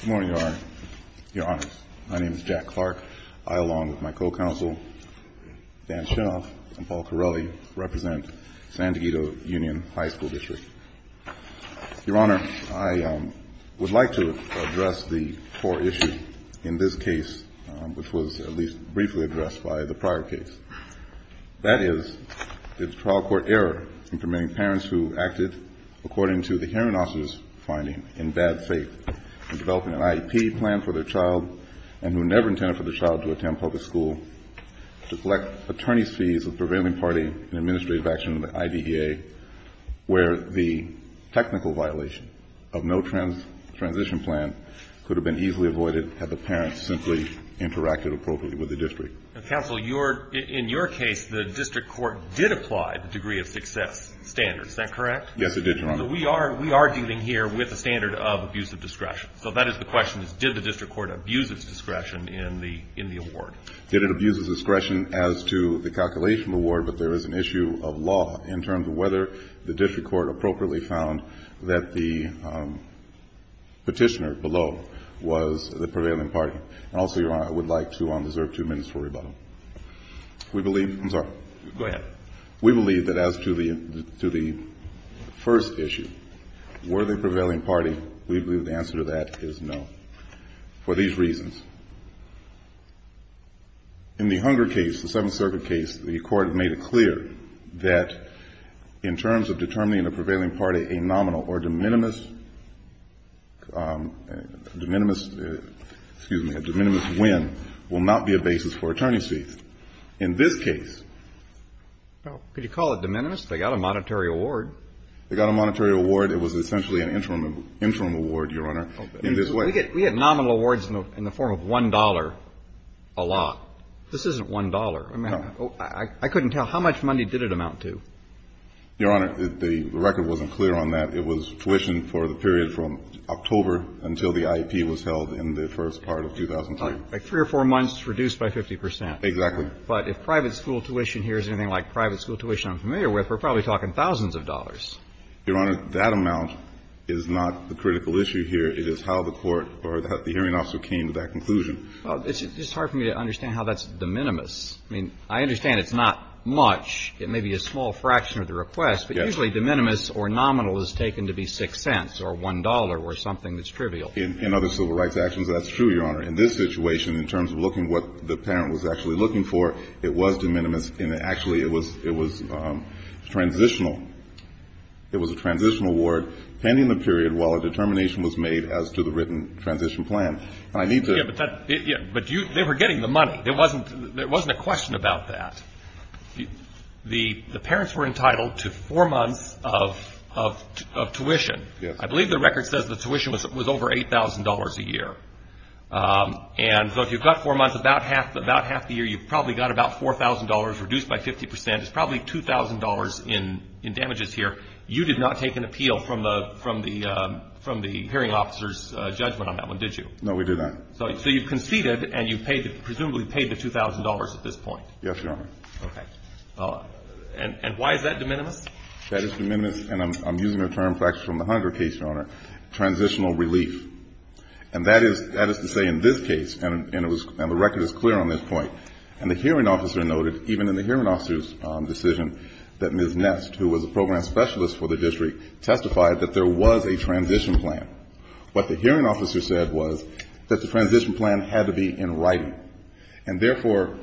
Good morning, Your Honor. My name is Jack Clark. I, along with my co-counsel, Dan Shinoff, and Paul Carelli, represent San Dieguito Union High School District. Your Honor, I would like to address the core issue in this case, which was at least briefly addressed by the prior case. That is the trial court error in permitting parents who acted according to the hearing officer's finding in bad faith in developing an IEP plan for their child and who never intended for the child to attend public school to collect attorney's fees of the prevailing party in administrative action of the IDEA, where the technical violation of no transition plan could have been easily avoided had the parents simply interacted appropriately with the district. Counsel, in your case, the district court did apply the degree of success standard. Is that correct? Yes, it did, Your Honor. We are dealing here with a standard of abuse of discretion. So that is the question, is did the district court abuse its discretion in the award? It abuses discretion as to the calculation award, but there is an issue of law in terms of whether the district court appropriately found that the petitioner below was the prevailing party. And also, Your Honor, I would like to, I deserve two minutes for rebuttal. We believe, I'm sorry. Go ahead. We believe that as to the first issue, were they a prevailing party, we believe the answer to that is no, for these reasons. In the Hunger case, the Seventh Circuit case, the court made it clear that in terms of determining a prevailing party, a nominal or de minimis decision, de minimis, excuse me, a de minimis win will not be a basis for attorney's fees. In this case. Could you call it de minimis? They got a monetary award. They got a monetary award. It was essentially an interim award, Your Honor, in this way. We get nominal awards in the form of $1 a lot. This isn't $1. No. I couldn't tell. How much money did it amount to? Your Honor, the record wasn't clear on that. It was tuition for the period from October until the IEP was held in the first part of 2003. Like three or four months reduced by 50 percent. Exactly. But if private school tuition here is anything like private school tuition I'm familiar with, we're probably talking thousands of dollars. Your Honor, that amount is not the critical issue here. It is how the court or the hearing officer came to that conclusion. Well, it's just hard for me to understand how that's de minimis. I mean, I understand it's not much. It may be a small fraction of the request. Yes. But usually de minimis or nominal is taken to be six cents or $1 or something that's trivial. In other civil rights actions, that's true, Your Honor. In this situation, in terms of looking what the parent was actually looking for, it was de minimis. And actually it was transitional. It was a transitional award pending the period while a determination was made as to the written transition plan. But they were getting the money. There wasn't a question about that. The parents were entitled to four months of tuition. I believe the record says the tuition was over $8,000 a year. And so if you've got four months, about half the year you've probably got about $4,000 reduced by 50 percent. It's probably $2,000 in damages here. You did not take an appeal from the hearing officer's judgment on that one, did you? No, we did not. So you conceded and you presumably paid the $2,000 at this point? Yes, Your Honor. Okay. And why is that de minimis? That is de minimis, and I'm using a term from the Hunter case, Your Honor, transitional relief. And that is to say in this case, and the record is clear on this point, and the hearing officer noted even in the hearing officer's decision that Ms. Nest, who was a program specialist for the district, testified that there was a transition plan. What the hearing officer said was that the transition plan had to be in writing. And therefore,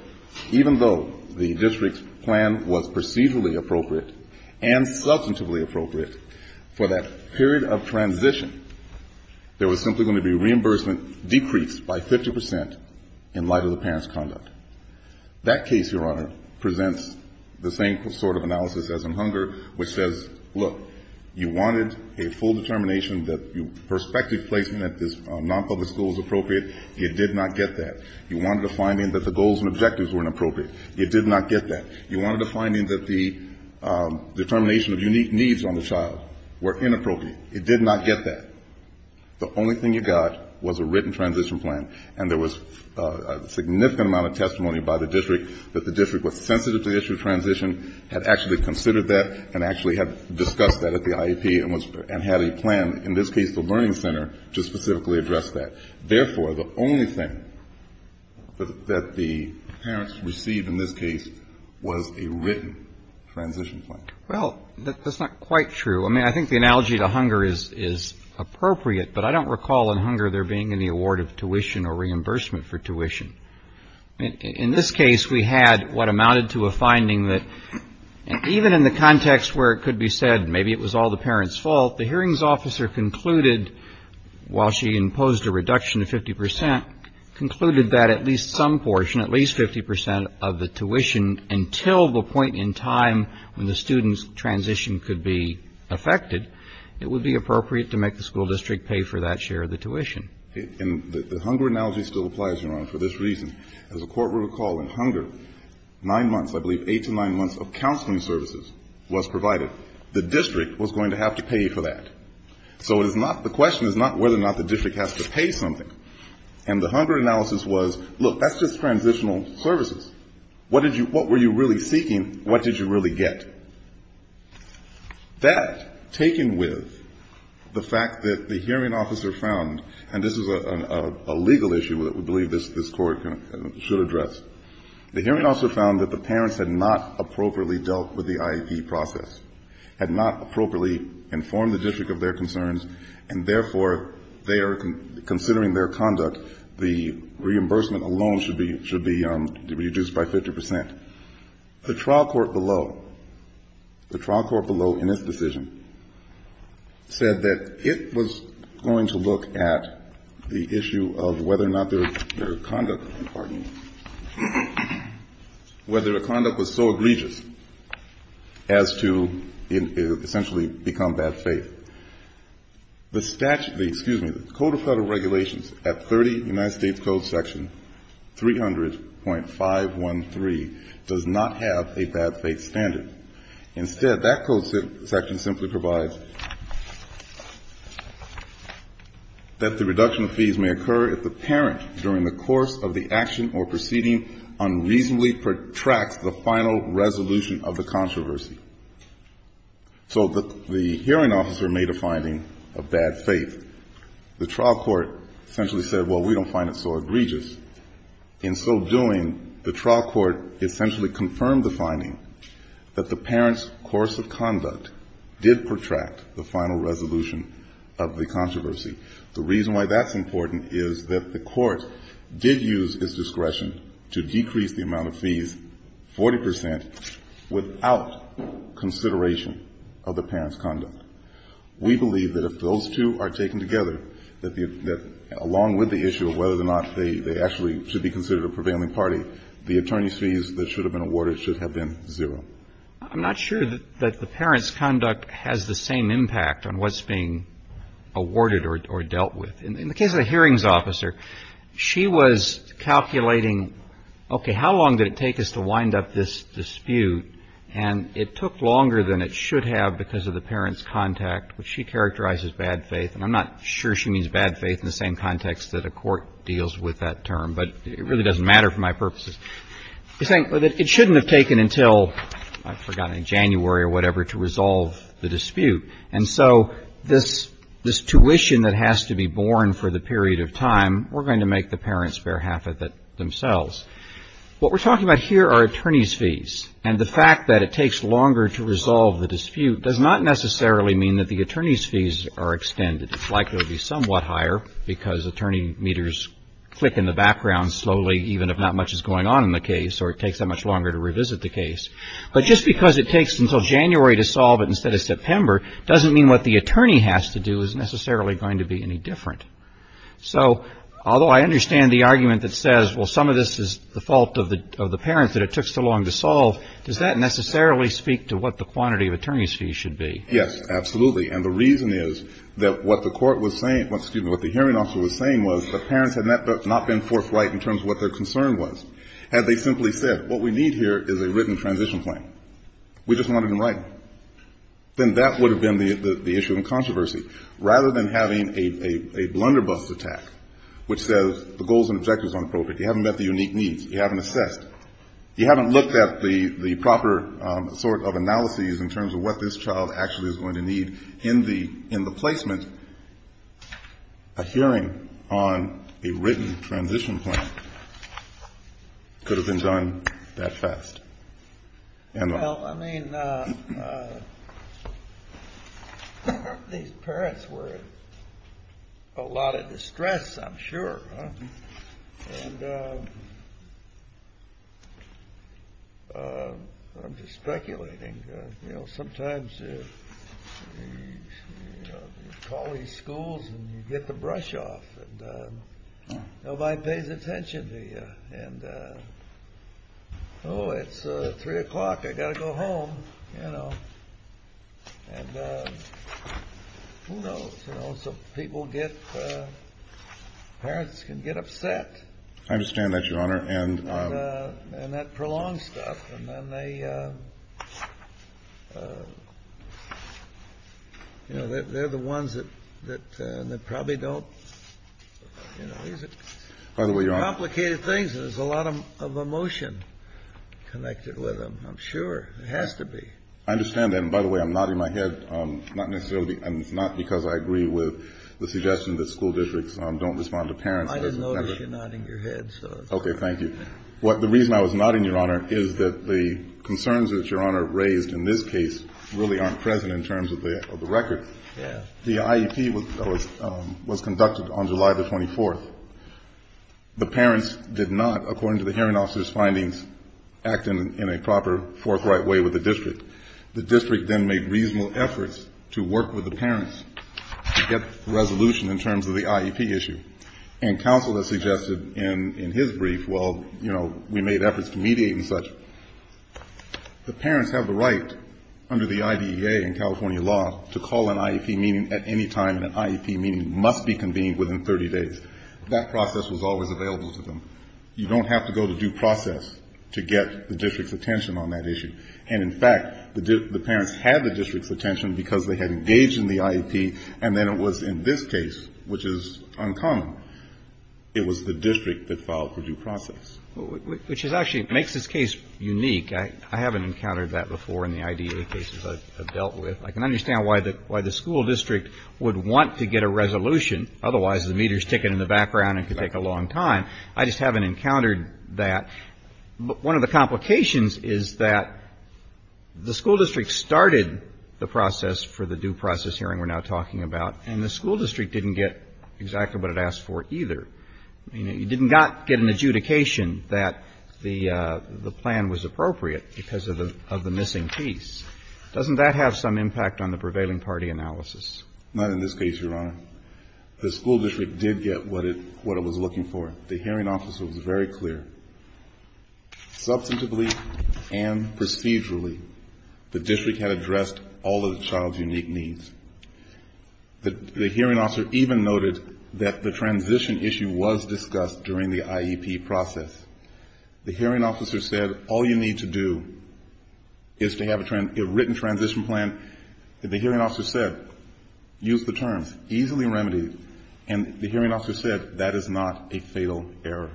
even though the district's plan was procedurally appropriate and substantively appropriate for that period of transition, there was simply going to be reimbursement decreased by 50 percent in light of the parent's conduct. That case, Your Honor, presents the same sort of analysis as in Hunger, which says, look, you wanted a full determination that perspective placement at this nonpublic school was appropriate. You did not get that. You wanted a finding that the goals and objectives were inappropriate. You did not get that. You wanted a finding that the determination of unique needs on the child were inappropriate. You did not get that. The only thing you got was a written transition plan, and there was a significant amount of testimony by the district that the district was sensitive to the issue of transition, had actually considered that, and actually had discussed that at the IEP and had a plan, in this case the Learning Center, to specifically address that. Therefore, the only thing that the parents received in this case was a written transition plan. Well, that's not quite true. I mean, I think the analogy to Hunger is appropriate, but I don't recall in Hunger there being any award of tuition or reimbursement for tuition. In this case, we had what amounted to a finding that even in the context where it could be said maybe it was all the parents' fault, the hearings officer concluded, while she imposed a reduction of 50 percent, concluded that at least some portion, at least 50 percent of the tuition, until the point in time when the student's transition could be affected, it would be appropriate to make the school district pay for that share of the tuition. And the Hunger analogy still applies, Your Honor, for this reason. As the Court will recall, in Hunger, nine months, I believe, eight to nine months of counseling services was provided. The district was going to have to pay for that. So it is not, the question is not whether or not the district has to pay something. And the Hunger analysis was, look, that's just transitional services. What did you, what were you really seeking? What did you really get? That, taken with the fact that the hearing officer found, and this is a legal issue that we believe this Court should address, the hearing officer found that the parents had not appropriately dealt with the IEP process, had not appropriately informed the district of their concerns, and therefore they are considering their conduct, the reimbursement alone should be reduced by 50 percent. The trial court below, the trial court below in this decision, said that it was going to look at the issue of whether or not their conduct, pardon me, whether their conduct was so egregious as to essentially become bad faith. The statute, excuse me, the Code of Federal Regulations at 30 United States Code Section 300.513 does not have a bad faith standard. Instead, that code section simply provides that the reduction of fees may occur if the parent during the course of the action or proceeding unreasonably protracts the final resolution of the controversy. So the hearing officer made a finding of bad faith. The trial court essentially said, well, we don't find it so egregious. In so doing, the trial court essentially confirmed the finding that the parent's course of conduct did protract the final resolution of the controversy. The reason why that's important is that the court did use its discretion to decrease the amount of fees 40 percent without consideration of the parent's conduct. We believe that if those two are taken together, that along with the issue of whether or not they actually should be considered a prevailing party, the attorney's fees that should have been awarded should have been zero. I'm not sure that the parent's conduct has the same impact on what's being awarded or dealt with. In the case of the hearings officer, she was calculating, okay, how long did it take us to wind up this dispute? And it took longer than it should have because of the parent's contact, which she characterized as bad faith. And I'm not sure she means bad faith in the same context that a court deals with that term. But it really doesn't matter for my purposes. It shouldn't have taken until, I've forgotten, in January or whatever to resolve the dispute. And so this tuition that has to be borne for the period of time, we're going to make the parents bear half of it themselves. And the fact that it takes longer to resolve the dispute does not necessarily mean that the attorney's fees are extended. It's likely to be somewhat higher because attorney meters click in the background slowly even if not much is going on in the case or it takes that much longer to revisit the case. But just because it takes until January to solve it instead of September doesn't mean what the attorney has to do is necessarily going to be any different. So although I understand the argument that says, well, some of this is the fault of the parents that it took so long to solve, does that necessarily speak to what the quantity of attorney's fees should be? Yes, absolutely. And the reason is that what the hearing officer was saying was the parents had not been forthright in terms of what their concern was. Had they simply said, what we need here is a written transition plan. We just want it in writing. Then that would have been the issue in controversy. Rather than having a blunderbuss attack which says the goals and objectives are appropriate, you haven't met the unique needs, you haven't assessed, you haven't looked at the proper sort of analyses in terms of what this child actually is going to need in the placement, a hearing on a written transition plan could have been done that fast. Well, I mean, these parents were in a lot of distress, I'm sure. And I'm just speculating. You know, sometimes you call these schools and you get the brush off and nobody pays attention to you. And, oh, it's 3 o'clock, I've got to go home, you know. And who knows? You know, some people get, parents can get upset. I understand that, Your Honor. And that prolongs stuff. And then they, you know, they're the ones that probably don't, you know, these are complicated things. There's a lot of emotion connected with them, I'm sure. It has to be. I understand that. And, by the way, I'm nodding my head, not necessarily because I agree with the suggestion that school districts don't respond to parents. I didn't notice you nodding your head. Thank you. The reason I was nodding, Your Honor, is that the concerns that Your Honor raised in this case really aren't present in terms of the record. Yeah. The IEP was conducted on July the 24th. The parents did not, according to the hearing officer's findings, act in a proper forthright way with the district. The district then made reasonable efforts to work with the parents to get resolution in terms of the IEP issue. And counsel has suggested in his brief, well, you know, we made efforts to mediate and such. The parents have the right under the IDEA and California law to call an IEP meeting at any time, and an IEP meeting must be convened within 30 days. That process was always available to them. You don't have to go to due process to get the district's attention on that issue. And, in fact, the parents had the district's attention because they had engaged in the IEP, and then it was in this case, which is uncommon, it was the district that filed for due process. Which actually makes this case unique. I haven't encountered that before in the IDEA cases I've dealt with. I can understand why the school district would want to get a resolution. Otherwise, the meter's ticking in the background and could take a long time. I just haven't encountered that. One of the complications is that the school district started the process for the due process hearing we're now talking about, and the school district didn't get exactly what it asked for either. I mean, it did not get an adjudication that the plan was appropriate because of the missing piece. Doesn't that have some impact on the prevailing party analysis? Not in this case, Your Honor. The school district did get what it was looking for. The hearing officer was very clear. Substantively and procedurally, the district had addressed all of the child's unique needs. The hearing officer even noted that the transition issue was discussed during the IEP process. The hearing officer said, all you need to do is to have a written transition plan. The hearing officer said, use the terms, easily remedied. And the hearing officer said, that is not a fatal error.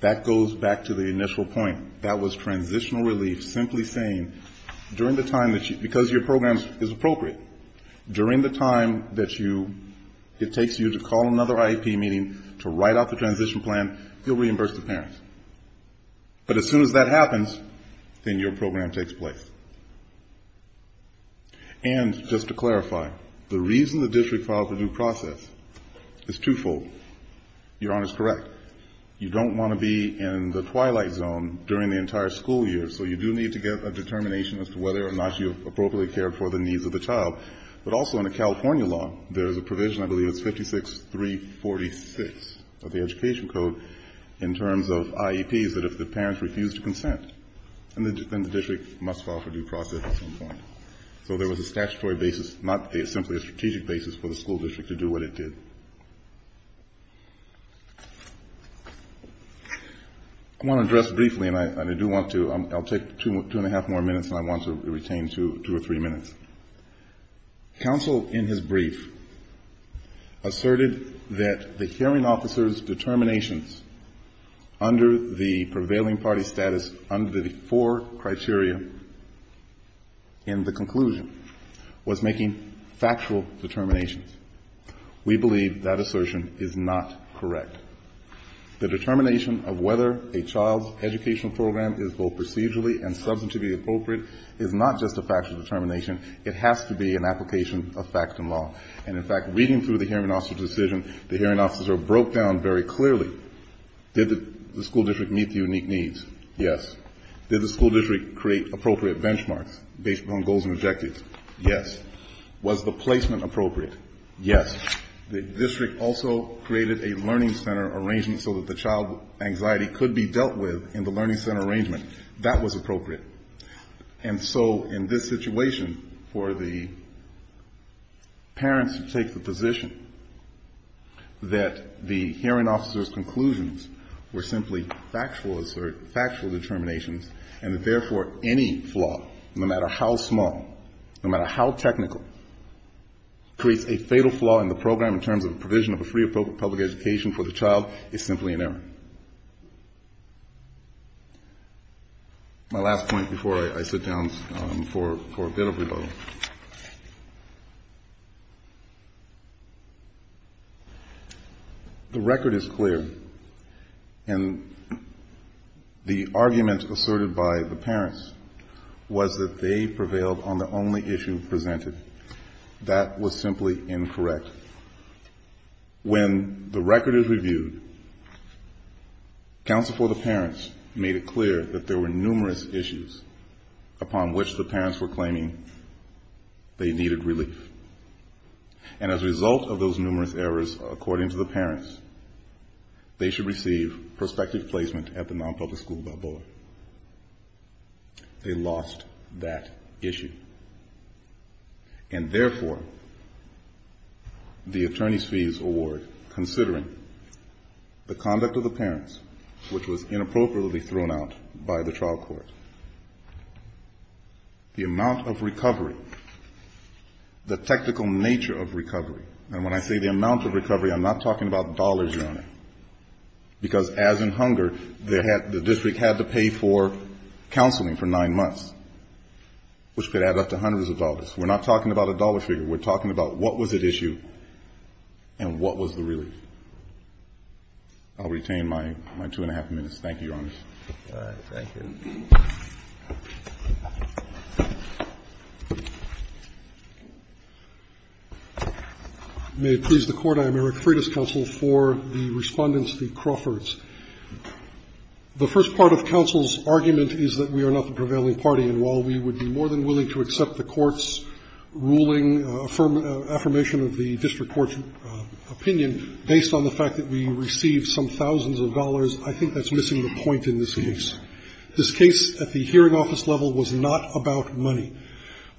That goes back to the initial point. That was transitional relief, simply saying, during the time that you, because your program is appropriate, during the time that it takes you to call another IEP meeting to write out the transition plan, you'll reimburse the parents. But as soon as that happens, then your program takes place. And just to clarify, the reason the district filed for due process is twofold. Your Honor is correct. You don't want to be in the twilight zone during the entire school year, so you do need to get a determination as to whether or not you appropriately cared for the needs of the child. But also in a California law, there is a provision, I believe it's 56346 of the Education Code, in terms of IEPs that if the parents refuse to consent, then the district must file for due process at some point. So there was a statutory basis, not simply a strategic basis, for the school district to do what it did. I want to address briefly, and I do want to, I'll take two and a half more minutes and I want to retain two or three minutes. Counsel in his brief asserted that the hearing officer's determinations under the prevailing party status, under the four criteria in the conclusion, was making factual determinations. We believe that assertion is not correct. The determination of whether a child's educational program is both procedurally and substantively appropriate is not just a factual determination, it has to be an application of fact and law. And in fact, reading through the hearing officer's decision, the hearing officer broke down very clearly. Did the school district meet the unique needs? Yes. Did the school district create appropriate benchmarks based on goals and objectives? Yes. Was the placement appropriate? Yes. The district also created a learning center arrangement so that the child's anxiety could be dealt with in the learning center arrangement. That was appropriate. And so in this situation, for the parents to take the position that the hearing officer's conclusions were simply factual assert, factual determinations, and therefore any flaw, no matter how small, no matter how technical, creates a fatal flaw in the program in terms of the provision of a free or public education for the child is simply an error. My last point before I sit down for a bit of rebuttal. The record is clear. And the argument asserted by the parents was that they prevailed on the only issue presented. That was simply incorrect. When the record is reviewed, counsel for the parents made it clear that there were numerous issues upon which the parents were claiming they needed relief. And as a result of those numerous errors, according to the parents, they should receive prospective placement at the nonpublic school board. They lost that issue. And therefore, the attorney's fees award, considering the conduct of the parents, which was inappropriately thrown out by the trial court, the amount of recovery, the technical nature of recovery, and when I say the amount of recovery, I'm not talking about dollars, Your Honor, because as in hunger, the district had to pay for counseling for nine months, which could add up to hundreds of dollars. We're not talking about a dollar figure. We're talking about what was at issue and what was the relief. I'll retain my two-and-a-half minutes. Thank you, Your Honor. Roberts. May it please the Court, I am Eric Freitas, counsel for the Respondents v. Crawford. The first part of counsel's argument is that we are not the prevailing party, and while we would be more than willing to accept the court's ruling affirmation of the district court's opinion based on the fact that we received some thousands of dollars, I think that's missing the point in this case. This case at the hearing office level was not about money.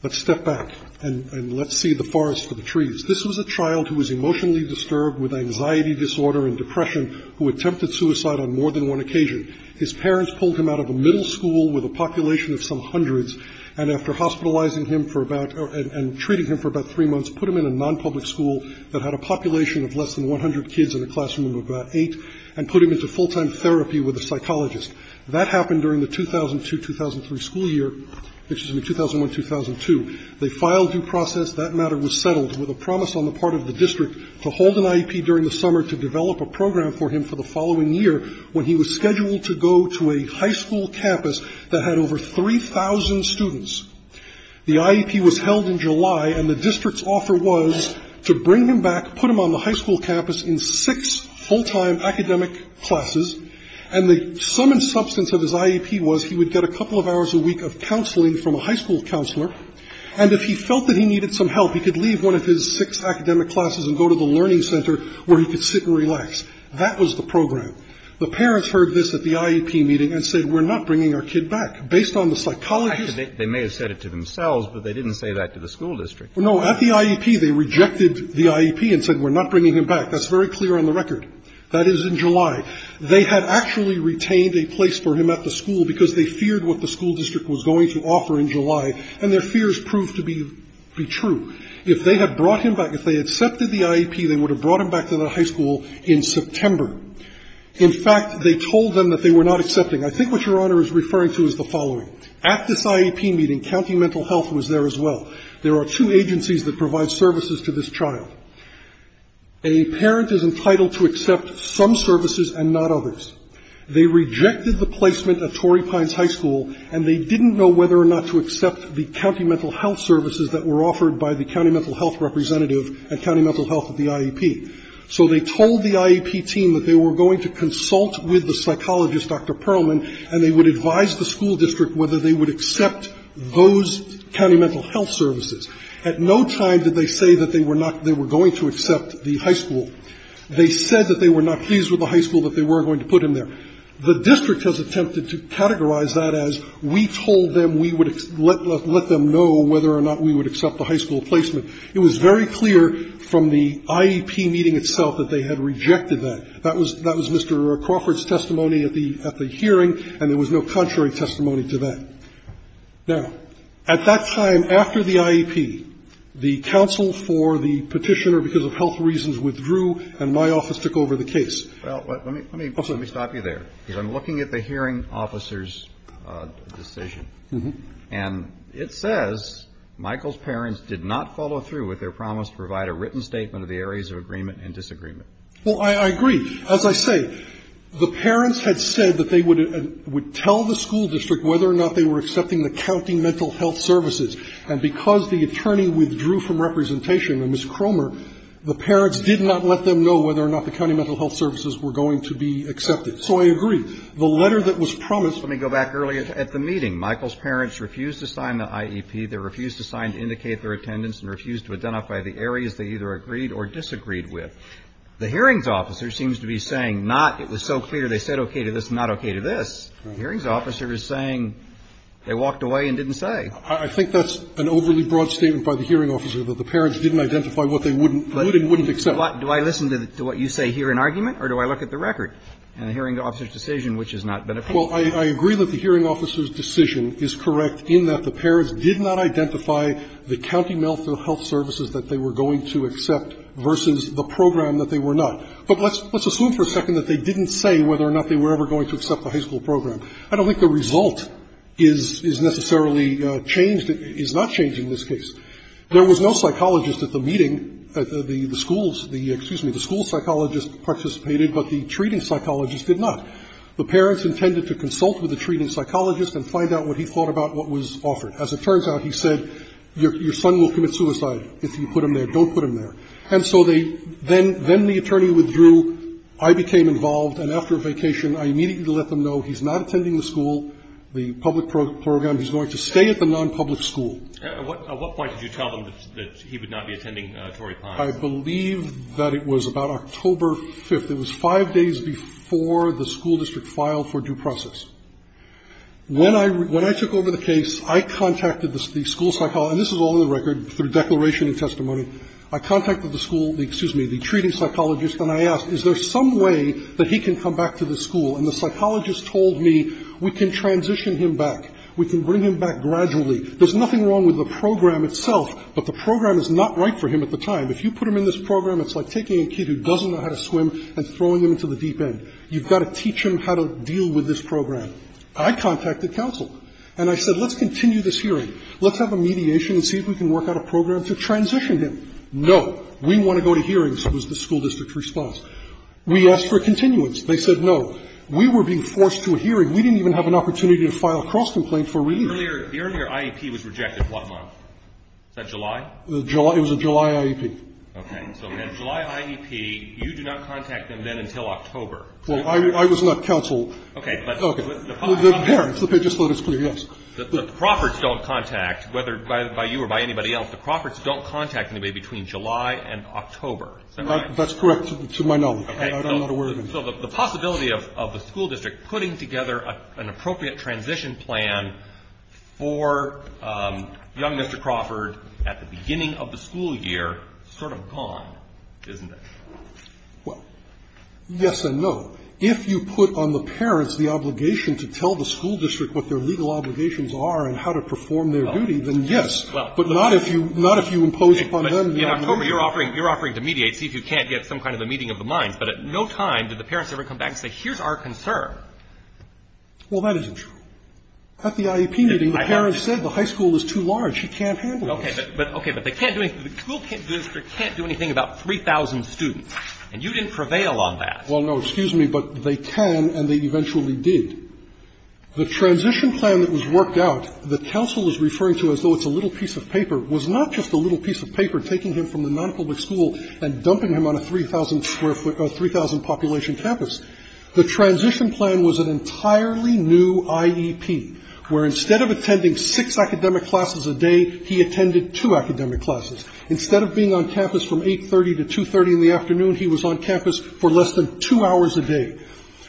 Let's step back and let's see the forest for the trees. This was a child who was emotionally disturbed with anxiety disorder and depression who attempted suicide on more than one occasion. His parents pulled him out of a middle school with a population of some hundreds, and after hospitalizing him for about or treating him for about three months, put him in a nonpublic school that had a population of less than 100 kids and a classroom of about eight, and put him into full-time therapy with a psychologist. That happened during the 2002-2003 school year, excuse me, 2001-2002. They filed due process. That matter was settled with a promise on the part of the district to hold an IEP during the summer to develop a program for him for the following year when he was scheduled to go to a high school campus that had over 3,000 students. The IEP was held in July, and the district's offer was to bring him back, put him on the high school campus in six full-time academic classes, and the sum and substance of his IEP was he would get a couple of hours a week of counseling from a high school counselor, and if he felt that he needed some help, he could leave one of his six academic classes and go to the learning center where he could sit and relax. That was the program. The parents heard this at the IEP meeting and said, we're not bringing our kid back. Based on the psychologist — They may have said it to themselves, but they didn't say that to the school district. No, at the IEP, they rejected the IEP and said, we're not bringing him back. That's very clear on the record. That is in July. They had actually retained a place for him at the school because they feared what the school district was going to offer in July, and their fears proved to be true. If they had brought him back, if they had accepted the IEP, they would have brought him back to the high school in September. In fact, they told them that they were not accepting. I think what Your Honor is referring to is the following. At this IEP meeting, County Mental Health was there as well. There are two agencies that provide services to this child. A parent is entitled to accept some services and not others. They rejected the placement at Torrey Pines High School, and they didn't know whether or not to accept the County Mental Health services that were offered by the County Mental Health representative and County Mental Health at the IEP. So they told the IEP team that they were going to consult with the psychologist, Dr. Perlman, and they would advise the school district whether they would accept those County Mental Health services. At no time did they say that they were not — they were going to accept the high school. They said that they were not pleased with the high school, that they weren't going to put him there. The district has attempted to categorize that as we told them we would let them know whether or not we would accept the high school placement. It was very clear from the IEP meeting itself that they had rejected that. That was Mr. Crawford's testimony at the hearing, and there was no contrary testimony to that. Now, at that time, after the IEP, the counsel for the Petitioner, because of health reasons, withdrew, and my office took over the case. Roberts. Well, let me stop you there, because I'm looking at the hearing officer's decision. And it says Michael's parents did not follow through with their promise to provide a written statement of the areas of agreement and disagreement. Well, I agree. As I say, the parents had said that they would tell the school district whether And Ms. Cromer, the parents did not let them know whether or not the county mental health services were going to be accepted. So I agree. The letter that was promised. Let me go back earlier at the meeting. Michael's parents refused to sign the IEP. They refused to sign to indicate their attendance and refused to identify the areas they either agreed or disagreed with. The hearings officer seems to be saying not, it was so clear, they said okay to this, not okay to this. The hearings officer is saying they walked away and didn't say. I think that's an overly broad statement by the hearing officer, that the parents didn't identify what they would and wouldn't accept. But do I listen to what you say here in argument, or do I look at the record in the hearing officer's decision, which is not beneficial? Well, I agree that the hearing officer's decision is correct in that the parents did not identify the county mental health services that they were going to accept versus the program that they were not. But let's assume for a second that they didn't say whether or not they were ever going to accept the high school program. I don't think the result is necessarily changed, is not changed in this case. There was no psychologist at the meeting, the schools, the, excuse me, the school psychologist participated, but the treating psychologist did not. The parents intended to consult with the treating psychologist and find out what he thought about what was offered. As it turns out, he said your son will commit suicide if you put him there, don't put him there. And so they, then the attorney withdrew, I became involved, and after a vacation I immediately let them know he's not attending the school, the public program, he's going to stay at the nonpublic school. At what point did you tell them that he would not be attending Torrey Pines? I believe that it was about October 5th. It was 5 days before the school district filed for due process. When I, when I took over the case, I contacted the school psychologist, and this is all in the record through declaration and testimony. I contacted the school, excuse me, the treating psychologist, and I asked is there some way that he can come back to the school, and the psychologist told me we can transition him back. We can bring him back gradually. There's nothing wrong with the program itself, but the program is not right for him at the time. If you put him in this program, it's like taking a kid who doesn't know how to swim and throwing him into the deep end. You've got to teach him how to deal with this program. I contacted counsel, and I said let's continue this hearing. Let's have a mediation and see if we can work out a program to transition him. No. We want to go to hearings, was the school district's response. We asked for a continuance. They said no. We were being forced to a hearing. We didn't even have an opportunity to file a cross-complaint for reason. The earlier IEP was rejected, what month? Was that July? It was a July IEP. Okay. So then July IEP, you do not contact them then until October. Well, I was not counsel. Okay. But the public's not going to contact them. Okay. Just let us clear, yes. The profferts don't contact, whether by you or by anybody else, the profferts don't contact anybody between July and October. That's correct to my knowledge. I'm not aware of it. So the possibility of the school district putting together an appropriate transition plan for young Mr. Crawford at the beginning of the school year is sort of gone, isn't it? Well, yes and no. If you put on the parents the obligation to tell the school district what their legal obligations are and how to perform their duty, then yes. But not if you impose upon them the obligation. In October, you're offering to mediate, see if you can't get some kind of a meeting of the minds, but at no time did the parents ever come back and say here's our concern. Well, that isn't true. At the IEP meeting, the parents said the high school is too large. She can't handle it. Okay. But they can't do anything. The school district can't do anything about 3,000 students. And you didn't prevail on that. Well, no. Excuse me. But they can and they eventually did. The transition plan that was worked out, that counsel is referring to as though it's a little piece of paper, was not just a little piece of paper taking him from the nonpublic school and dumping him on a 3,000 population campus. The transition plan was an entirely new IEP, where instead of attending six academic classes a day, he attended two academic classes. Instead of being on campus from 8.30 to 2.30 in the afternoon, he was on campus for less than two hours a day.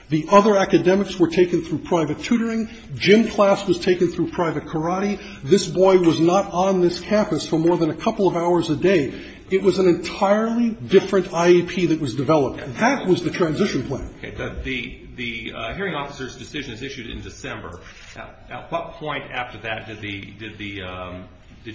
The other academics were taken through private tutoring. Gym class was taken through private karate. This boy was not on this campus for more than a couple of hours a day. It was an entirely different IEP that was developed. That was the transition plan. Okay. The hearing officer's decision is issued in December. At what point after that did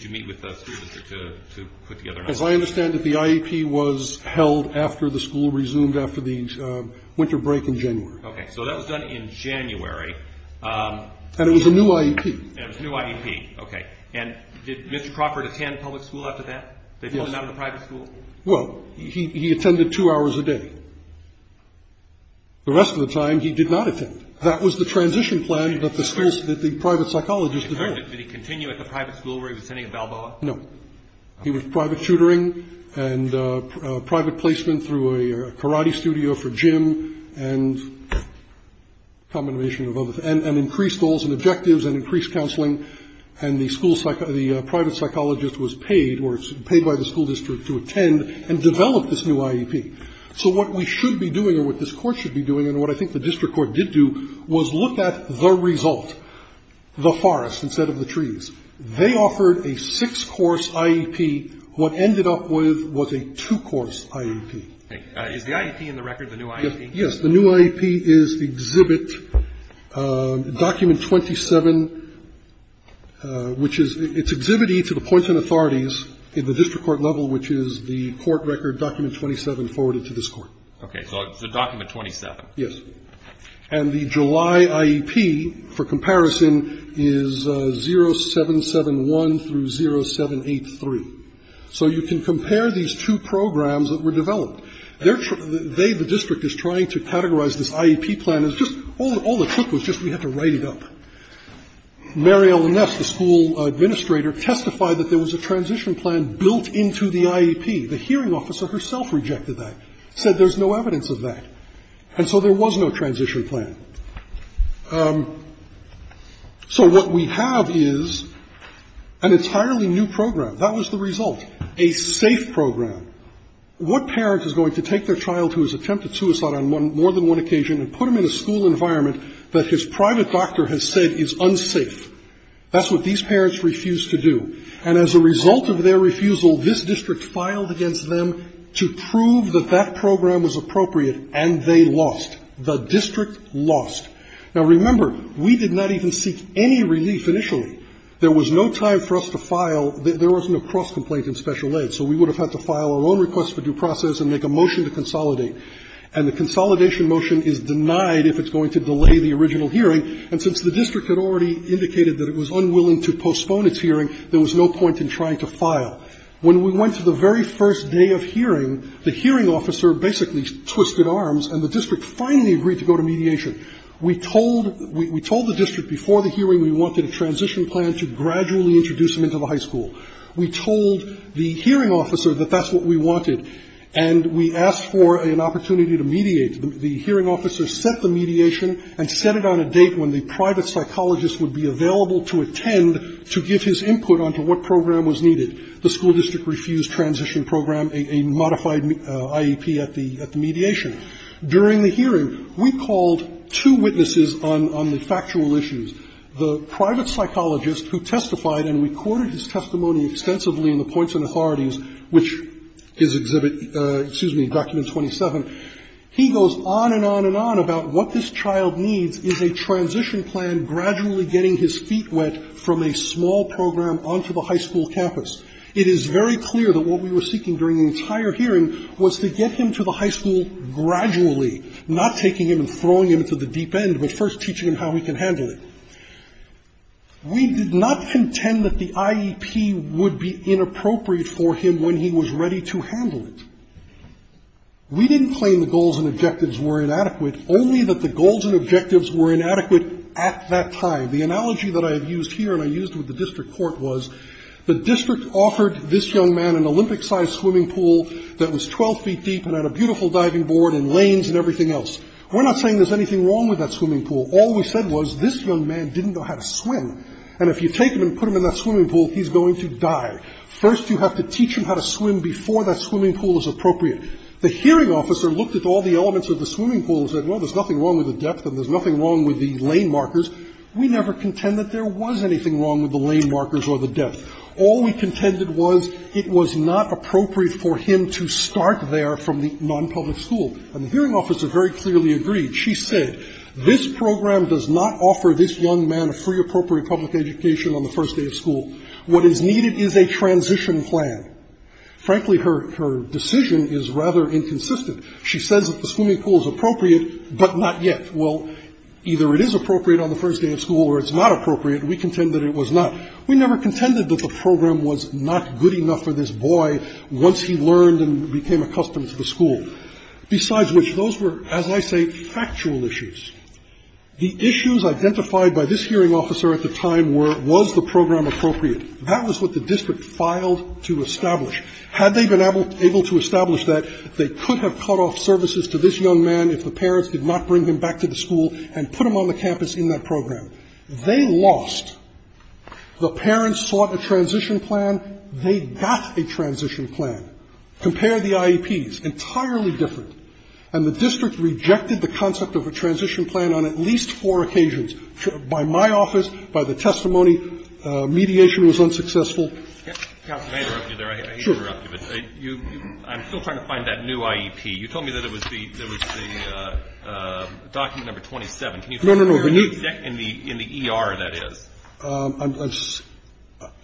you meet with the school district to put together an IEP? As I understand it, the IEP was held after the school resumed after the winter break in January. Okay. So that was done in January. And it was a new IEP. It was a new IEP. Okay. And did Mr. Crawford attend public school after that? Yes. They pulled him out of the private school? Well, he attended two hours a day. The rest of the time he did not attend. That was the transition plan that the private psychologist developed. Did he continue at the private school where he was attending at Balboa? No. He was private tutoring and private placement through a karate studio for gym and and increased goals and objectives and increased counseling. And the private psychologist was paid or paid by the school district to attend and develop this new IEP. So what we should be doing or what this court should be doing and what I think the district court did do was look at the result, the forest instead of the trees. They offered a six-course IEP. What ended up with was a two-course IEP. Is the IEP in the record, the new IEP? The new IEP is the exhibit document 27, which is it's exhibit E to the points and authorities in the district court level, which is the court record document 27 forwarded to this court. Okay. So it's a document 27. Yes. And the July IEP for comparison is 0771 through 0783. So you can compare these two programs that were developed. They, the district, is trying to categorize this IEP plan as just all the trick was just we had to write it up. Mary Ellen Ness, the school administrator, testified that there was a transition plan built into the IEP. The hearing officer herself rejected that, said there's no evidence of that. And so there was no transition plan. So what we have is an entirely new program. That was the result, a safe program. What parent is going to take their child who has attempted suicide on more than one occasion and put them in a school environment that his private doctor has said is unsafe? That's what these parents refused to do. And as a result of their refusal, this district filed against them to prove that that program was appropriate, and they lost. The district lost. Now, remember, we did not even seek any relief initially. There was no time for us to file. There was no cross complaint in special aid. So we would have had to file our own request for due process and make a motion to consolidate. And the consolidation motion is denied if it's going to delay the original hearing. And since the district had already indicated that it was unwilling to postpone its hearing, there was no point in trying to file. When we went to the very first day of hearing, the hearing officer basically twisted arms and the district finally agreed to go to mediation. We told the district before the hearing we wanted a transition plan to gradually introduce them into the high school. We told the hearing officer that that's what we wanted, and we asked for an opportunity to mediate. The hearing officer set the mediation and set it on a date when the private psychologist would be available to attend to give his input on to what program was needed, the school district refused transition program, a modified IEP at the mediation. During the hearing, we called two witnesses on the factual issues. The private psychologist who testified and recorded his testimony extensively in the points and authorities, which is exhibit, excuse me, document 27, he goes on and on and on about what this child needs is a transition plan gradually getting his feet wet from a small program on to the high school campus. It is very clear that what we were seeking during the entire hearing was to get him to the high school gradually, not taking him and throwing him to the deep end, but first teaching him how we can handle it. We did not contend that the IEP would be inappropriate for him when he was ready to handle it. We didn't claim the goals and objectives were inadequate, only that the goals and objectives were inadequate at that time. The analogy that I have used here and I used with the district court was the district court offered this young man an Olympic-sized swimming pool that was 12 feet deep and had a beautiful diving board and lanes and everything else. We're not saying there's anything wrong with that swimming pool. All we said was this young man didn't know how to swim, and if you take him and put him in that swimming pool, he's going to die. First you have to teach him how to swim before that swimming pool is appropriate. The hearing officer looked at all the elements of the swimming pool and said, well, there's nothing wrong with the depth and there's nothing wrong with the lane markers. We never contend that there was anything wrong with the lane markers or the depth. All we contended was it was not appropriate for him to start there from the nonpublic school, and the hearing officer very clearly agreed. She said this program does not offer this young man a free appropriate public education on the first day of school. What is needed is a transition plan. Frankly, her decision is rather inconsistent. She says that the swimming pool is appropriate, but not yet. Well, either it is appropriate on the first day of school or it's not appropriate, and we contend that it was not. We never contended that the program was not good enough for this boy once he learned and became accustomed to the school. Besides which, those were, as I say, factual issues. The issues identified by this hearing officer at the time were, was the program appropriate? That was what the district filed to establish. Had they been able to establish that, they could have cut off services to this young man if the parents did not bring him back to the school and put him on the campus in that program. They lost. The parents sought a transition plan. They got a transition plan. Compare the IEPs. Entirely different. And the district rejected the concept of a transition plan on at least four occasions, by my office, by the testimony. Mediation was unsuccessful. I'm still trying to find that new IEP. You told me that it was the document number 27. No, no, no. In the ER, that is.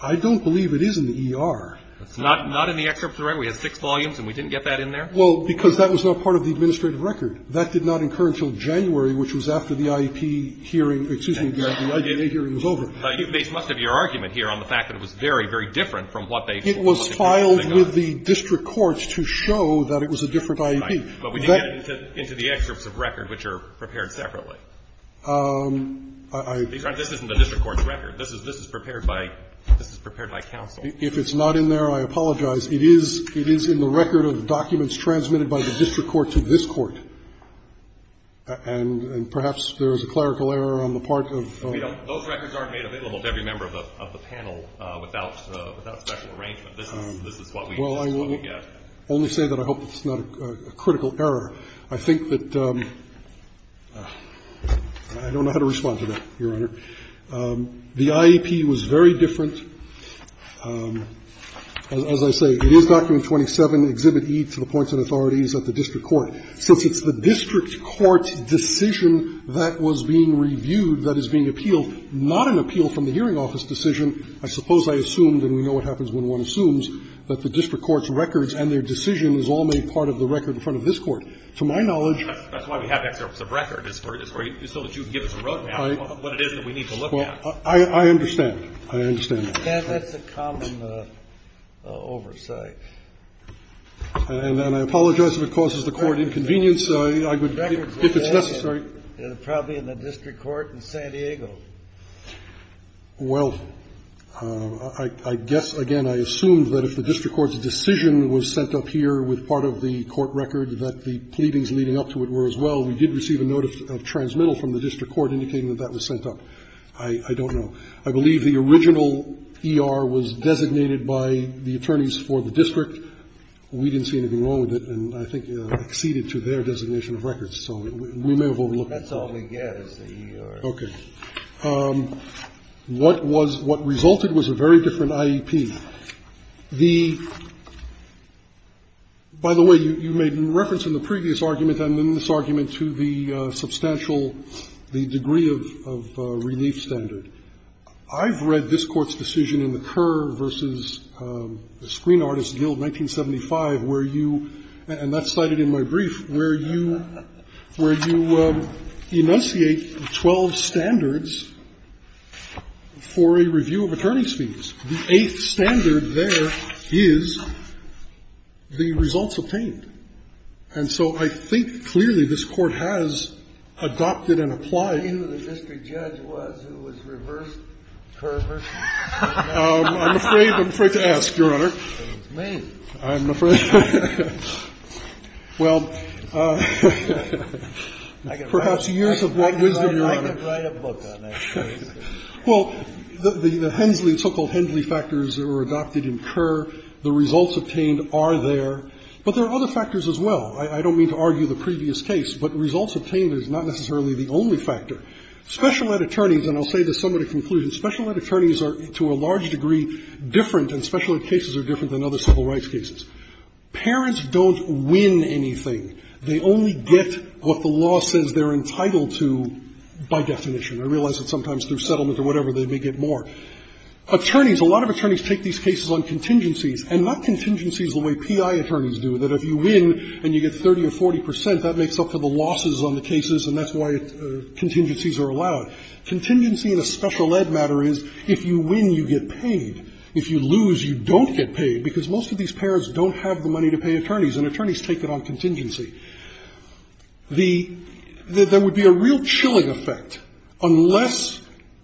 I don't believe it is in the ER. Not in the excerpts of the record? We had six volumes and we didn't get that in there? Well, because that was not part of the administrative record. That did not incur until January, which was after the IEP hearing, excuse me, the IEP hearing was over. You base most of your argument here on the fact that it was very, very different from what they found. It was filed with the district courts to show that it was a different IEP. But we didn't get into the excerpts of record, which are prepared separately. Because this isn't the district court's record. This is prepared by counsel. If it's not in there, I apologize. It is in the record of documents transmitted by the district court to this court. And perhaps there is a clerical error on the part of the panel. Those records aren't made available to every member of the panel without special arrangement. This is what we get. Well, I will only say that I hope it's not a critical error. I think that I don't know how to respond to that, Your Honor. The IEP was very different. As I say, it is Document 27, Exhibit E, to the points and authorities at the district court. Since it's the district court's decision that was being reviewed, that is being appealed, not an appeal from the hearing office decision, I suppose I assume, and we know what happens when one assumes, that the district court's records and their records are sent to this court. To my knowledge. That's why we have excerpts of record. So that you can give us a roadmap of what it is that we need to look at. I understand. I understand. That's a common oversight. And I apologize if it causes the court inconvenience. If it's necessary. It's probably in the district court in San Diego. Well, I guess, again, I assume that if the district court's decision was sent up here with part of the court record, that the pleadings leading up to it were as well. We did receive a notice of transmittal from the district court indicating that that was sent up. I don't know. I believe the original ER was designated by the attorneys for the district. We didn't see anything wrong with it. And I think it acceded to their designation of records. So we may have overlooked it. That's all we get is the ER. Okay. What resulted was a very different IEP. By the way, you made reference in the previous argument and in this argument to the substantial, the degree of relief standard. I've read this Court's decision in the Kerr v. Screen Artists Guild, 1975, where you, and that's cited in my brief, where you enunciate 12 standards for a review of attorney's fees. The eighth standard there is the results obtained. And so I think clearly this Court has adopted and applied. Do you know who the district judge was who was reversed Kerr v. Screen Artists? I'm afraid to ask, Your Honor. It's me. I'm afraid. Well, perhaps years of wrong wisdom, Your Honor. I could write a book on that case. Well, the Hensley, so-called Hensley factors that were adopted in Kerr, the results obtained are there. But there are other factors as well. I don't mean to argue the previous case, but results obtained is not necessarily the only factor. Special ed attorneys, and I'll say this somewhat in conclusion, special ed attorneys are, to a large degree, different, and special ed cases are different than other civil rights cases. Parents don't win anything. They only get what the law says they're entitled to by definition. I realize that sometimes through settlement or whatever they may get more. Attorneys, a lot of attorneys take these cases on contingencies, and not contingencies the way PI attorneys do, that if you win and you get 30 or 40 percent, that makes up for the losses on the cases, and that's why contingencies are allowed. Contingency in a special ed matter is if you win, you get paid. If you lose, you don't get paid, because most of these parents don't have the money to pay attorneys, and attorneys take it on contingency. There would be a real chilling effect unless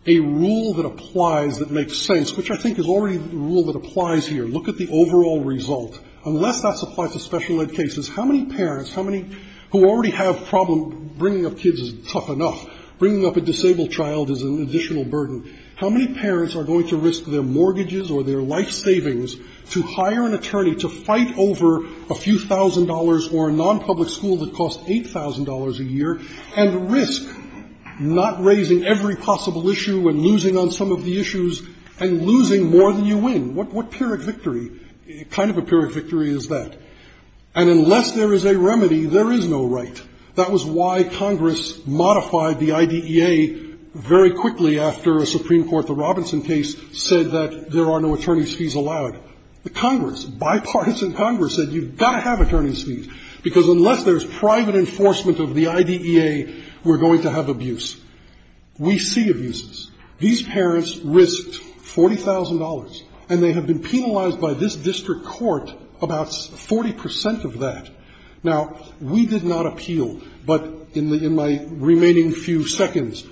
a rule that applies that makes sense, which I think is already the rule that applies here. Look at the overall result. Unless that applies to special ed cases, how many parents, how many who already have problem bringing up kids is tough enough, bringing up a disabled child is an additional burden, how many parents are going to risk their mortgages or their life savings to hire an attorney to fight over a few thousand dollars or a nonpublic school that costs $8,000 a year, and risk not raising every possible issue and losing on some of the issues and losing more than you win? What pyrrhic victory, what kind of a pyrrhic victory is that? And unless there is a remedy, there is no right. That was why Congress modified the IDEA very quickly after a Supreme Court, the Robinson case, said that there are no attorney's fees allowed. The Congress, bipartisan Congress, said you've got to have attorney's fees, because unless there is private enforcement of the IDEA, we're going to have abuse. We see abuses. These parents risked $40,000, and they have been penalized by this district court about 40 percent of that. Now, we did not appeal, but in my remaining few seconds,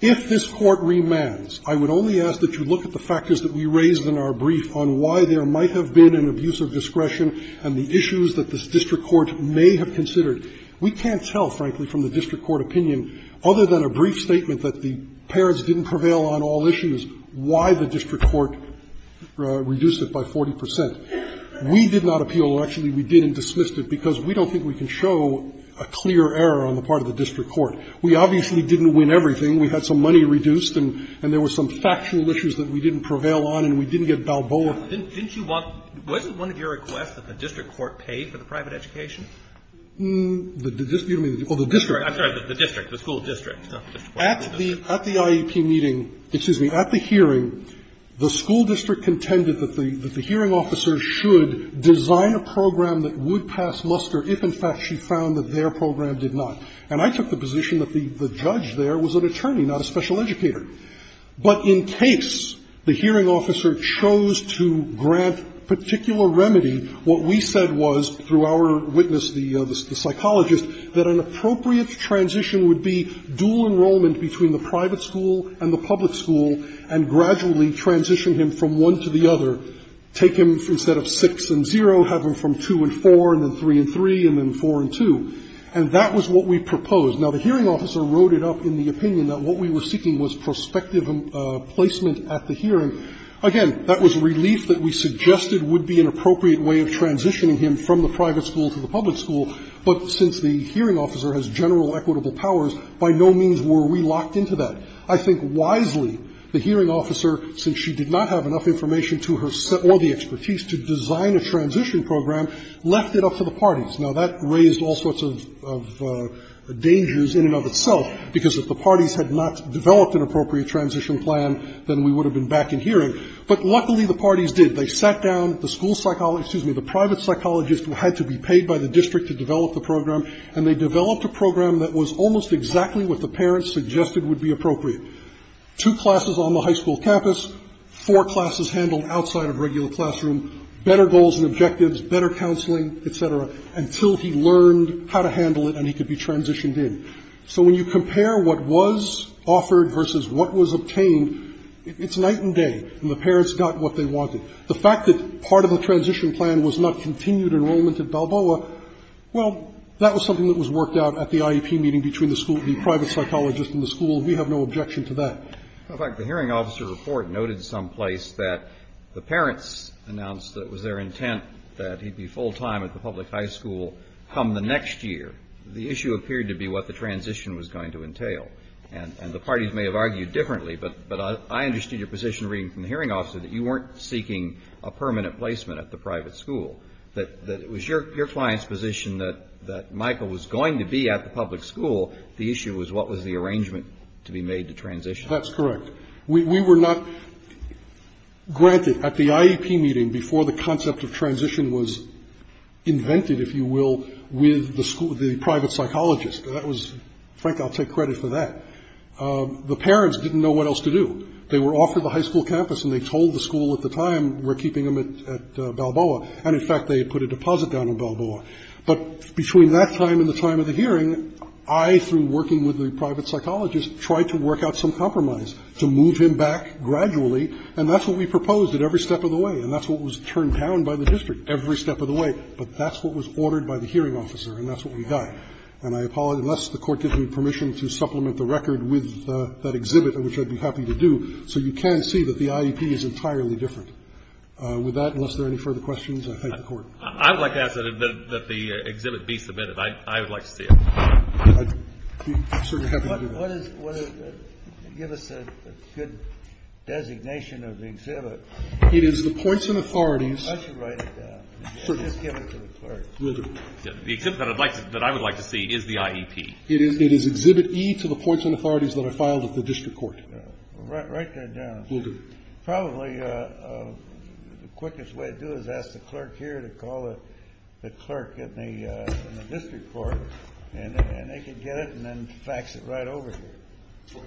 if this Court remands, I would only ask that you look at the factors that we raised in our brief on why there might have been an abuse of discretion and the issues that this district court may have considered. We can't tell, frankly, from the district court opinion, other than a brief statement that the parents didn't prevail on all issues, why the district court reduced it by 40 percent. We did not appeal. Actually, we did and dismissed it, because we don't think we can show a clear error on the part of the district court. We obviously didn't win everything. We had some money reduced, and there were some factual issues that we didn't prevail on, and we didn't get Balboa. Alito, didn't you want to – wasn't one of your requests that the district court pay for the private education? The district, I'm sorry, the district, the school district, not the district court. At the IEP meeting, excuse me, at the hearing, the school district contended that the hearing officer should design a program that would pass muster if, in fact, she found that their program did not. And I took the position that the judge there was an attorney, not a special educator. But in case the hearing officer chose to grant particular remedy, what we said was, through our witness, the psychologist, that an appropriate transition would be dual enrollment between the private school and the public school and gradually transition him from one to the other, take him instead of 6 and 0, have him from 2 and 4 and then 3 and 3 and then 4 and 2, and that was what we proposed. Now, the hearing officer wrote it up in the opinion that what we were seeking was prospective placement at the hearing. Again, that was relief that we suggested would be an appropriate way of transitioning him from the private school to the public school, but since the hearing officer has general equitable powers, by no means were we locked into that. I think wisely the hearing officer, since she did not have enough information to her – or the expertise to design a transition program, left it up to the parties. Now, that raised all sorts of dangers in and of itself, because if the parties had not developed an appropriate transition plan, then we would have been back in hearing, but luckily the parties did. They sat down, the school psychologist – excuse me, the private psychologist who had to be paid by the district to develop the program, and they developed a program that was almost exactly what the parents suggested would be appropriate. Two classes on the high school campus, four classes handled outside of regular classroom, better goals and objectives, better counseling, et cetera, until he learned how to handle it and he could be transitioned in. So when you compare what was offered versus what was obtained, it's night and day, and the parents got what they wanted. The fact that part of the transition plan was not continued enrollment at Balboa, well, that was something that was worked out at the IEP meeting between the school – the private psychologist and the school. We have no objection to that. In fact, the hearing officer report noted someplace that the parents announced that it was their intent that he'd be full-time at the public high school come the next year. The issue appeared to be what the transition was going to entail, and the parties may have argued differently, but I understood your position reading from the hearing officer that you weren't seeking a permanent placement at the private school, that it was your client's position that Michael was going to be at the public school. The issue was what was the arrangement to be made to transition him. That's correct. We were not granted at the IEP meeting before the concept of transition was invented, if you will, with the private psychologist. That was – Frank, I'll take credit for that. The parents didn't know what else to do. They were offered the high school campus, and they told the school at the time, we're keeping him at Balboa. And, in fact, they had put a deposit down at Balboa. But between that time and the time of the hearing, I, through working with the And that's what we proposed at every step of the way. And that's what was turned down by the district every step of the way. But that's what was ordered by the hearing officer, and that's what we got. And I apologize. Unless the Court gives me permission to supplement the record with that exhibit, which I'd be happy to do. So you can see that the IEP is entirely different. With that, unless there are any further questions, I thank the Court. I would like to ask that the exhibit be submitted. I would like to see it. What is it? Give us a good designation of the exhibit. It is the Points and Authorities. I should write it down. Just give it to the clerk. The exhibit that I would like to see is the IEP. It is Exhibit E to the Points and Authorities that are filed at the district court. Write that down. Will do. Probably the quickest way to do it is ask the clerk here to call the clerk in the district court, and they can get it and then fax it right over here.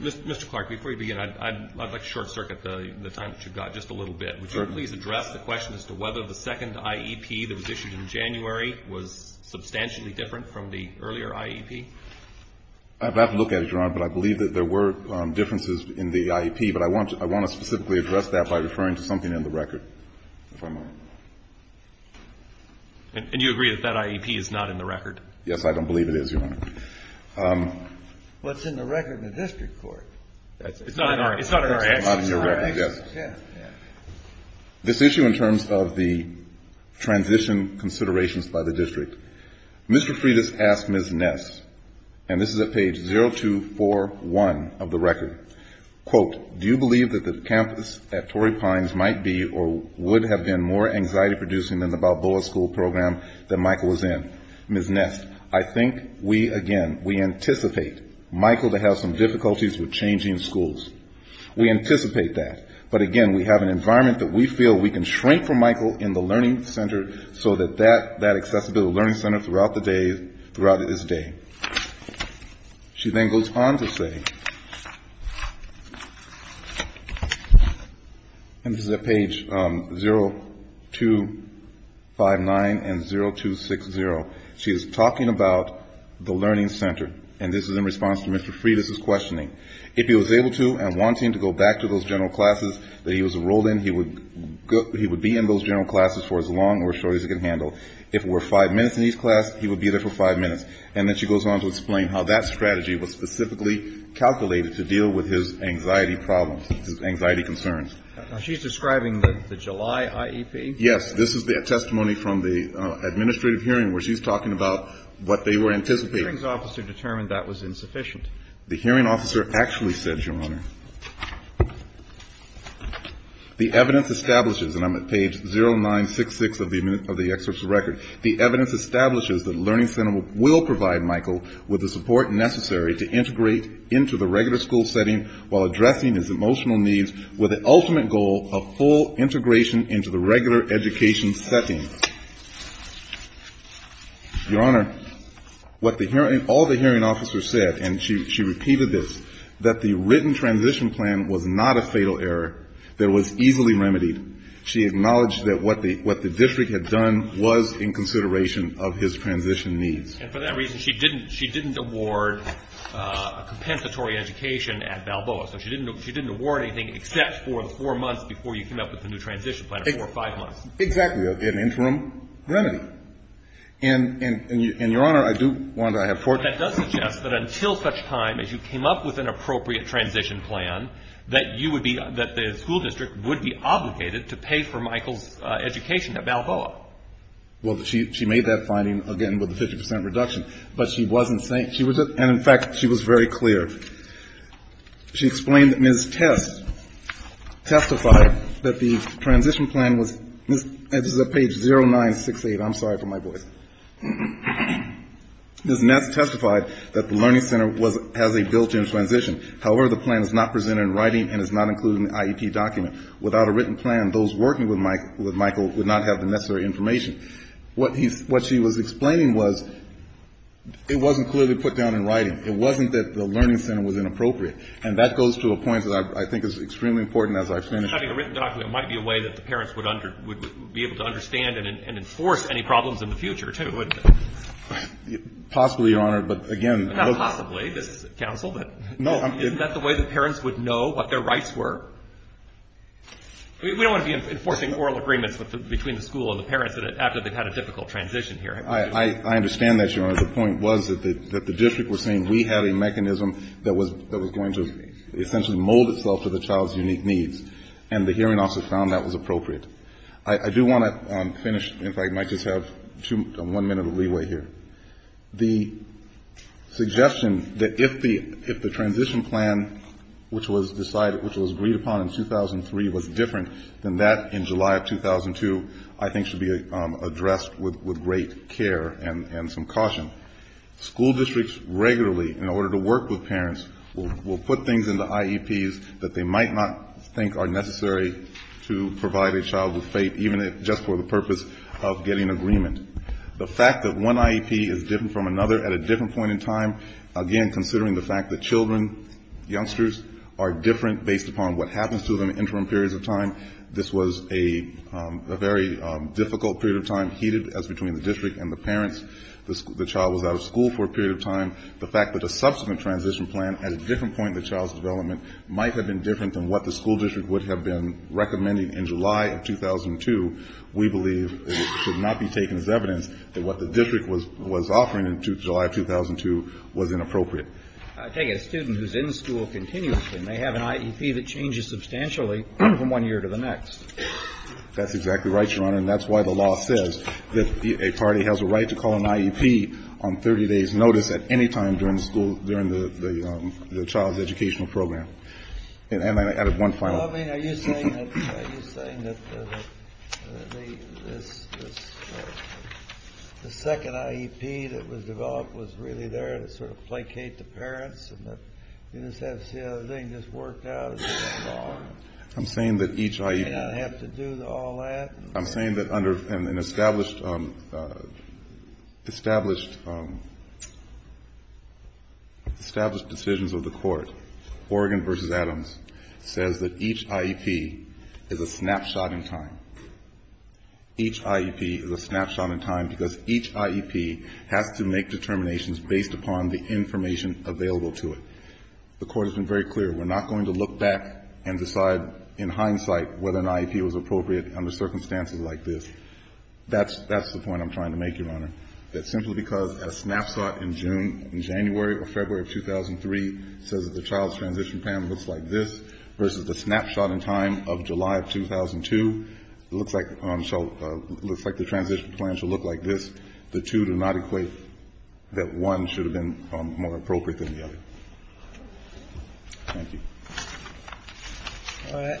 Mr. Clark, before you begin, I'd like to short-circuit the time that you've got just a little bit. Would you please address the question as to whether the second IEP that was issued in January was substantially different from the earlier IEP? I'd have to look at it, Your Honor, but I believe that there were differences in the IEP, but I want to specifically address that by referring to something in the record, if I might. And you agree that that IEP is not in the record? Yes, I don't believe it is, Your Honor. Well, it's in the record in the district court. It's not in our actions. It's not in your record, yes. This issue in terms of the transition considerations by the district, Mr. Freitas asked Ms. Ness, and this is at page 0241 of the record, quote, do you believe that the campus at Torrey Pines might be or would have been more anxiety-producing than the Balboa School Program that Michael was in? Ms. Ness, I think we, again, we anticipate Michael to have some difficulties with changing schools. We anticipate that. But, again, we have an environment that we feel we can shrink from Michael in the learning center so that that accessibility learning center throughout the day, throughout his day. She then goes on to say, and this is at page 0259 and 0260, she is talking about the learning center, and this is in response to Mr. Freitas' questioning, if he was able to and wanting to go back to those general classes that he was enrolled in, he would be in those general classes for as long or as short as he could handle. If it were five minutes in each class, he would be there for five minutes. And then she goes on to explain how that strategy was specifically calculated to deal with his anxiety problems, his anxiety concerns. She's describing the July IEP? Yes. This is the testimony from the administrative hearing where she's talking about what they were anticipating. The hearings officer determined that was insufficient. The hearing officer actually said, Your Honor, the evidence establishes, and I'm at page 0966 of the excerpt's record, the evidence establishes that the learning center will provide Michael with the support necessary to integrate into the regular school setting while addressing his emotional needs with the ultimate goal of full integration into the regular education setting. Your Honor, what all the hearing officers said, and she repeated this, that the written transition plan was not a fatal error that was easily remedied. She acknowledged that what the district had done was in consideration of his transition needs. And for that reason, she didn't award a compensatory education at Balboa. So she didn't award anything except for the four months before you came up with the new transition plan, or four or five months. Exactly. An interim remedy. And, Your Honor, I do want to have fortitude. But that does suggest that until such time as you came up with an appropriate transition plan, that you would be, that the school district would be obligated to pay for Michael's education at Balboa. Well, she made that finding, again, with a 50 percent reduction. But she wasn't saying, she was, and in fact, she was very clear. She explained that Ms. Test testified that the transition plan was, this is at page 0968. I'm sorry for my voice. Ms. Ness testified that the learning center has a built-in transition. However, the plan is not presented in writing and is not included in the IEP document. Without a written plan, those working with Michael would not have the necessary information. What she was explaining was it wasn't clearly put down in writing. It wasn't that the learning center was inappropriate. And that goes to a point that I think is extremely important as I finish. Having a written document might be a way that the parents would be able to understand and enforce any problems in the future, too, wouldn't it? Possibly, Your Honor, but again. Not possibly. This is counsel. No. Isn't that the way the parents would know what their rights were? We don't want to be enforcing oral agreements between the school and the parents after they've had a difficult transition here. I understand that, Your Honor. The point was that the district was saying we have a mechanism that was going to essentially mold itself to the child's unique needs. And the hearing officer found that was appropriate. I do want to finish. In fact, I might just have one minute of leeway here. The suggestion that if the transition plan, which was decided, which was agreed upon in 2003, was different than that in July of 2002, I think should be addressed with great care and some caution. School districts regularly, in order to work with parents, will put things into IEPs that they might not think are necessary to provide a child with faith, even if just for the purpose of getting agreement. The fact that one IEP is different from another at a different point in time, again, considering the fact that children, youngsters, are different based upon what happens to them in interim periods of time. This was a very difficult period of time, heated as between the district and the parents. The child was out of school for a period of time. The fact that a subsequent transition plan at a different point in the child's development might have been different than what the school district would have been recommending in July of 2002, we believe should not be taken as evidence that what the district was offering in July of 2002 was inappropriate. I take it a student who's in school continuously may have an IEP that changes substantially from one year to the next. That's exactly right, Your Honor. And that's why the law says that a party has a right to call an IEP on 30 days' notice at any time during the school, during the child's educational program. And I added one final thing. Well, I mean, are you saying that the second IEP that was developed was really there to sort of placate the parents and that you just had to see how the thing just worked out as a law? I'm saying that each IEP. Did they not have to do all that? I'm saying that under an established, established, established decisions of the Court, Oregon v. Adams says that each IEP is a snapshot in time. Each IEP is a snapshot in time because each IEP has to make determinations based upon the information available to it. The Court has been very clear. We're not going to look back and decide in hindsight whether an IEP was appropriate under circumstances like this. That's the point I'm trying to make, Your Honor, that simply because a snapshot in June, in January or February of 2003 says that the child's transition plan looks like this versus the snapshot in time of July of 2002, it looks like the transition plan should look like this. The two do not equate that one should have been more appropriate than the other. Thank you. All right. Thank you.